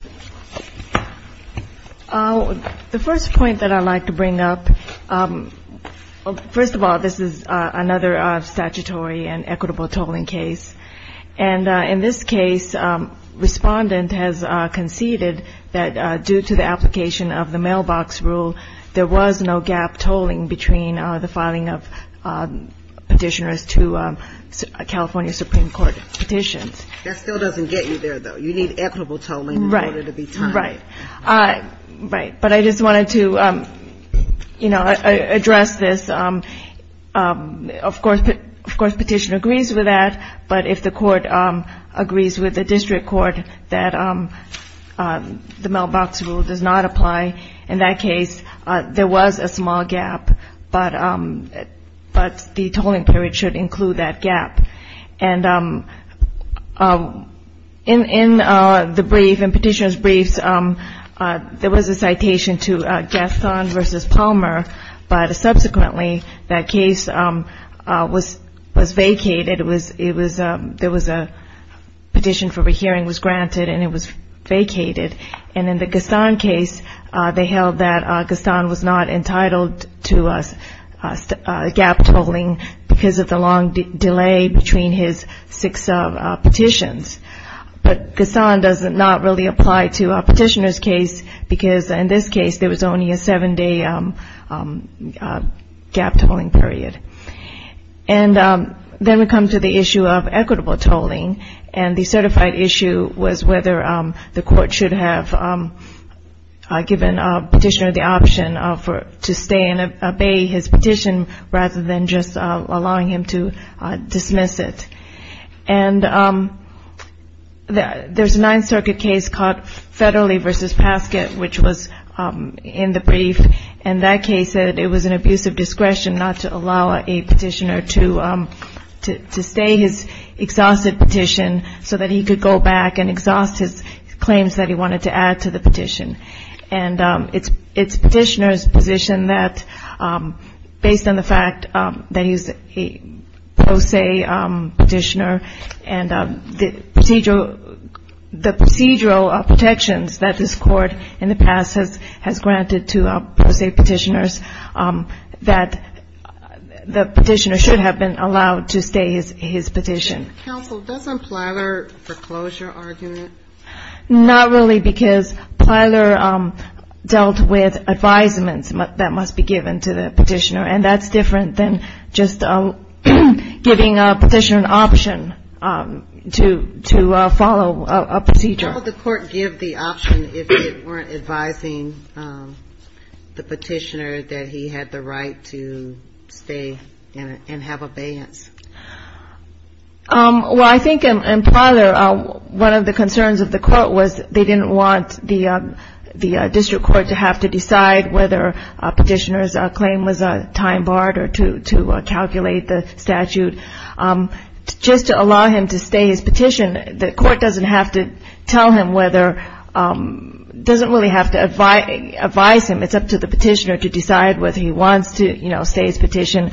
The first point that I'd like to bring up, first of all, this is another statutory and equitable tolling case. And in this case, respondent has conceded that due to the application of the mailbox rule, there was no gap tolling between the filing of petitioners to California Supreme Court petitions. That still doesn't get you there, though. You need equitable tolling in order to be timed. Right. But I just wanted to address this. Of course, petitioner agrees with that. But if the court agrees with the district court that the mailbox rule does not apply, in that case, there was a small gap. But the tolling period should include that gap. And in the brief, in petitioner's briefs, there was a citation to Gaston v. Palmer. But subsequently, that case was vacated. There was a petition for a hearing was granted and it was vacated. And in the Gaston case, they held that Gaston was not entitled to gap tolling because of the long delay between his six petitions. But Gaston does not really apply to a petitioner's case because, in this case, there was only a seven-day gap tolling period. And then we come to the issue of equitable tolling. And the certified issue was whether the court should have given a petitioner the option to stay and obey his petition rather than just allowing him to dismiss it. And there's a Ninth Circuit case called Federally v. Paskett, which was in the brief. In that case, it was an abuse of discretion not to allow a petitioner to stay his exhausted petition so that he could go back and exhaust his claims that he wanted to add to the petition. And it's petitioner's position that, based on the fact that he's a pro se petitioner and the procedural protections that this Court in the past has granted to pro se petitioners, that the petitioner should have been allowed to stay his petition. Counsel, doesn't Plyler foreclose your argument? Not really because Plyler dealt with advisements that must be given to the petitioner. And that's different than just giving a petitioner an option to follow a procedure. How would the Court give the option if it weren't advising the petitioner that he had the right to stay and have abeyance? Well, I think in Plyler, one of the concerns of the Court was they didn't want the district court to have to decide whether a petitioner's claim was time barred or to calculate the statute. Just to allow him to stay his petition, the Court doesn't have to tell him whether, doesn't really have to advise him. It's up to the petitioner to decide whether he wants to, you know, stay his petition,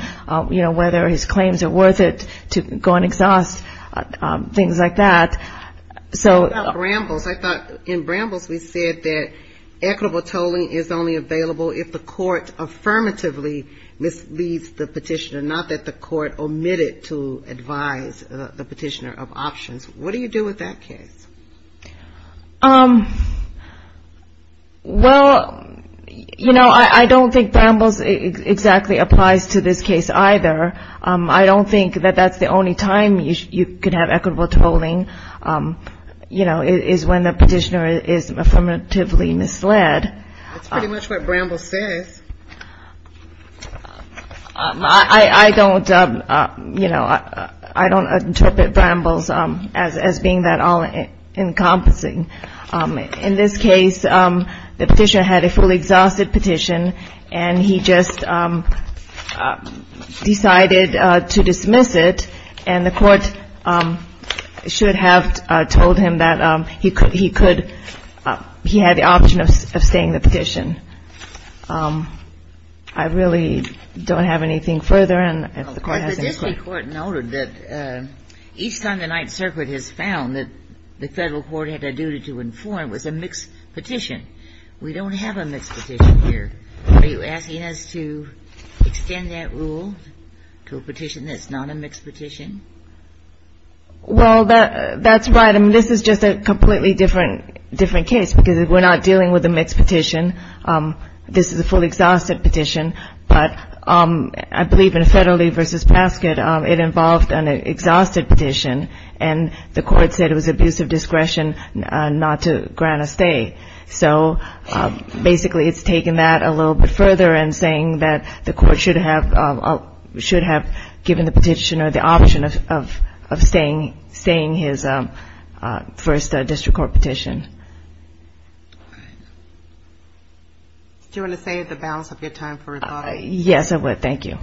you know, whether his claims are worth it to go and exhaust, things like that. What about Brambles? I thought in Brambles we said that equitable tolling is only available if the Court affirmatively misleads the petitioner, not that the Court omitted to advise the petitioner of options. What do you do with that case? Well, you know, I don't think Brambles exactly applies to this case either. I don't think that that's the only time you could have equitable tolling, you know, is when the petitioner is affirmatively misled. That's pretty much what Brambles says. I don't, you know, I don't interpret Brambles as being that all-encompassing. In this case, the petitioner had a fully exhausted petition, and he just decided to dismiss it. And the Court should have told him that he could, he had the option of staying the petition. I really don't have anything further, and if the Court has any questions. But the district court noted that each time the Ninth Circuit has found that the Federal court had a duty to inform, it was a mixed petition. We don't have a mixed petition here. Are you asking us to extend that rule to a petition that's not a mixed petition? Well, that's right. I mean, this is just a completely different case, because we're not dealing with a mixed petition. This is a fully exhausted petition, but I believe in Federley v. Pasket, it involved an exhausted petition, and the Court said it was abuse of discretion not to grant a stay. So basically, it's taking that a little bit further and saying that the Court should have given the petitioner the option of staying his first district court petition. Do you want to save the balance of your time for rebuttal? Yes, I would. Thank you.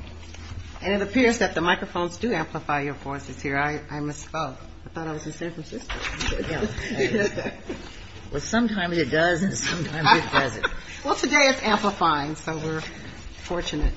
And it appears that the microphones do amplify your voices here. I misspoke. I thought I was in San Francisco. Well, sometimes it does, and sometimes it doesn't. Well, today it's amplifying, so we're fortunate.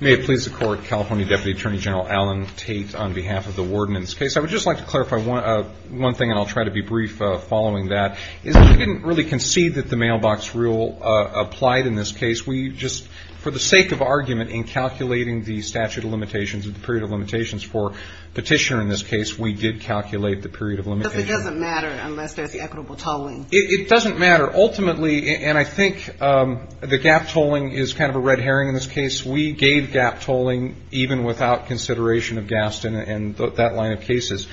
May it please the Court, California Deputy Attorney General Alan Tate on behalf of the Warden in this case. I would just like to clarify one thing, and I'll try to be brief following that. We didn't really concede that the mailbox rule applied in this case. We just, for the sake of argument in calculating the statute of limitations and the period of limitations for petitioner in this case, we did calculate the period of limitations. But it doesn't matter unless there's equitable tolling. It doesn't matter. Ultimately, and I think the gap tolling is kind of a red herring in this case, we gave gap tolling even without consideration of Gaston and that line of cases.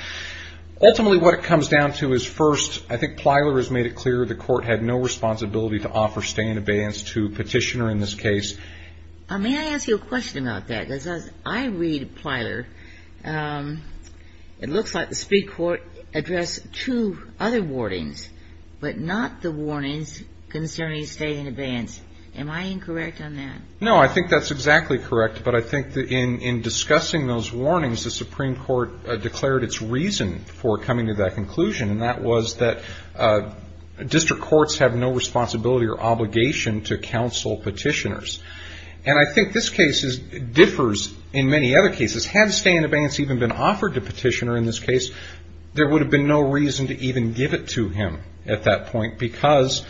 Ultimately, what it comes down to is first, I think Plyler has made it clear the Court had no responsibility to offer stay in abeyance to petitioner in this case. May I ask you a question about that? Because as I read Plyler, it looks like the Supreme Court addressed two other warnings, but not the warnings concerning stay in abeyance. Am I incorrect on that? No, I think that's exactly correct, but I think in discussing those warnings, the Supreme Court declared its reason for coming to that conclusion, and that was that district courts have no responsibility or obligation to counsel petitioners. And I think this case differs in many other cases. Had stay in abeyance even been offered to petitioner in this case, there would have been no reason to even give it to him at that point because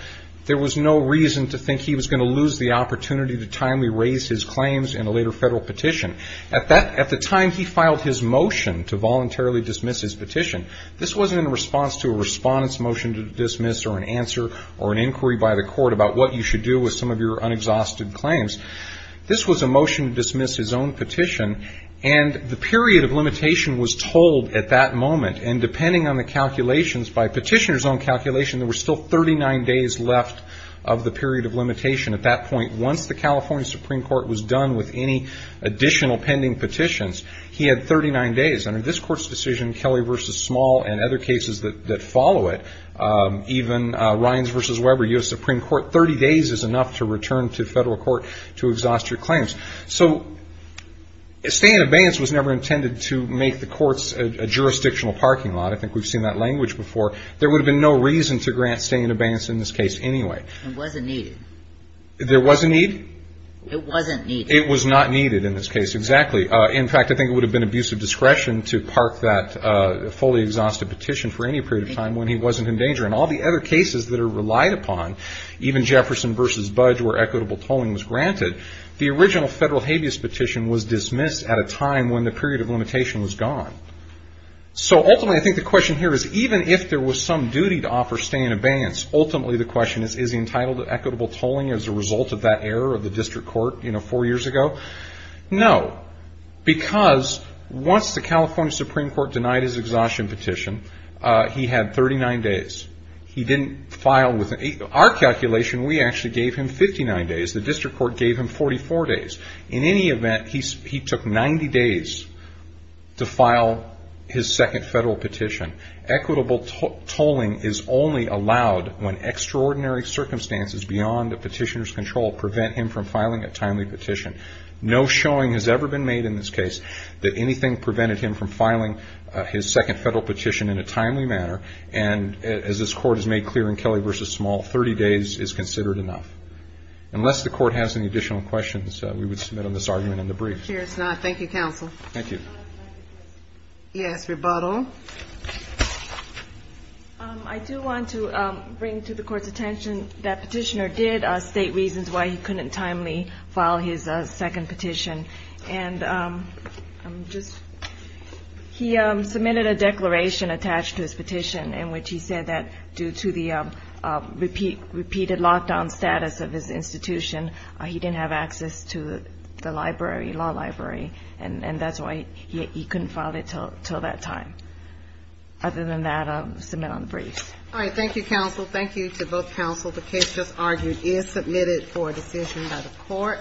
there was no reason to think he was going to lose the opportunity to timely raise his claims in a later federal petition. At the time he filed his motion to voluntarily dismiss his petition, this wasn't in response to a respondent's motion to dismiss or an answer or an inquiry by the court about what you should do with some of your unexhausted claims. This was a motion to dismiss his own petition, and the period of limitation was told at that moment, and depending on the calculations, by petitioner's own calculation, there were still 39 days left of the period of limitation at that point. Once the California Supreme Court was done with any additional pending petitions, he had 39 days. Under this court's decision, Kelly v. Small and other cases that follow it, even Rines v. Weber, U.S. Supreme Court, 30 days is enough to return to federal court to exhaust your claims. So stay in abeyance was never intended to make the courts a jurisdictional parking lot. I think we've seen that language before. There would have been no reason to grant stay in abeyance in this case anyway. It wasn't needed. There was a need? It wasn't needed. It was not needed in this case, exactly. In fact, I think it would have been abusive discretion to park that fully exhausted petition for any period of time when he wasn't in danger. In all the other cases that are relied upon, even Jefferson v. Budge, where equitable tolling was granted, the original federal habeas petition was dismissed at a time when the period of limitation was gone. So ultimately, I think the question here is, even if there was some duty to offer stay in abeyance, ultimately the question is, is he entitled to equitable tolling as a result of that error of the district court four years ago? No, because once the California Supreme Court denied his exhaustion petition, he had 39 days. He didn't file with an eight. Our calculation, we actually gave him 59 days. The district court gave him 44 days. In any event, he took 90 days to file his second federal petition. Equitable tolling is only allowed when extraordinary circumstances beyond a petitioner's control prevent him from filing a timely petition. No showing has ever been made in this case that anything prevented him from filing his second federal petition in a timely manner. And as this court has made clear in Kelly v. Small, 30 days is considered enough. Unless the court has any additional questions, we would submit on this argument in the brief. I'm sure it's not. Thank you, counsel. Thank you. Yes, rebuttal. I do want to bring to the court's attention that petitioner did state reasons why he couldn't timely file his second petition. And he submitted a declaration attached to his petition in which he said that due to the repeated lockdown status of his institution, he didn't have access to the library, law library, and that's why he couldn't file it until that time. Other than that, I'll submit on the brief. All right. Thank you, counsel. Thank you to both counsel. The case just argued is submitted for a decision by the court.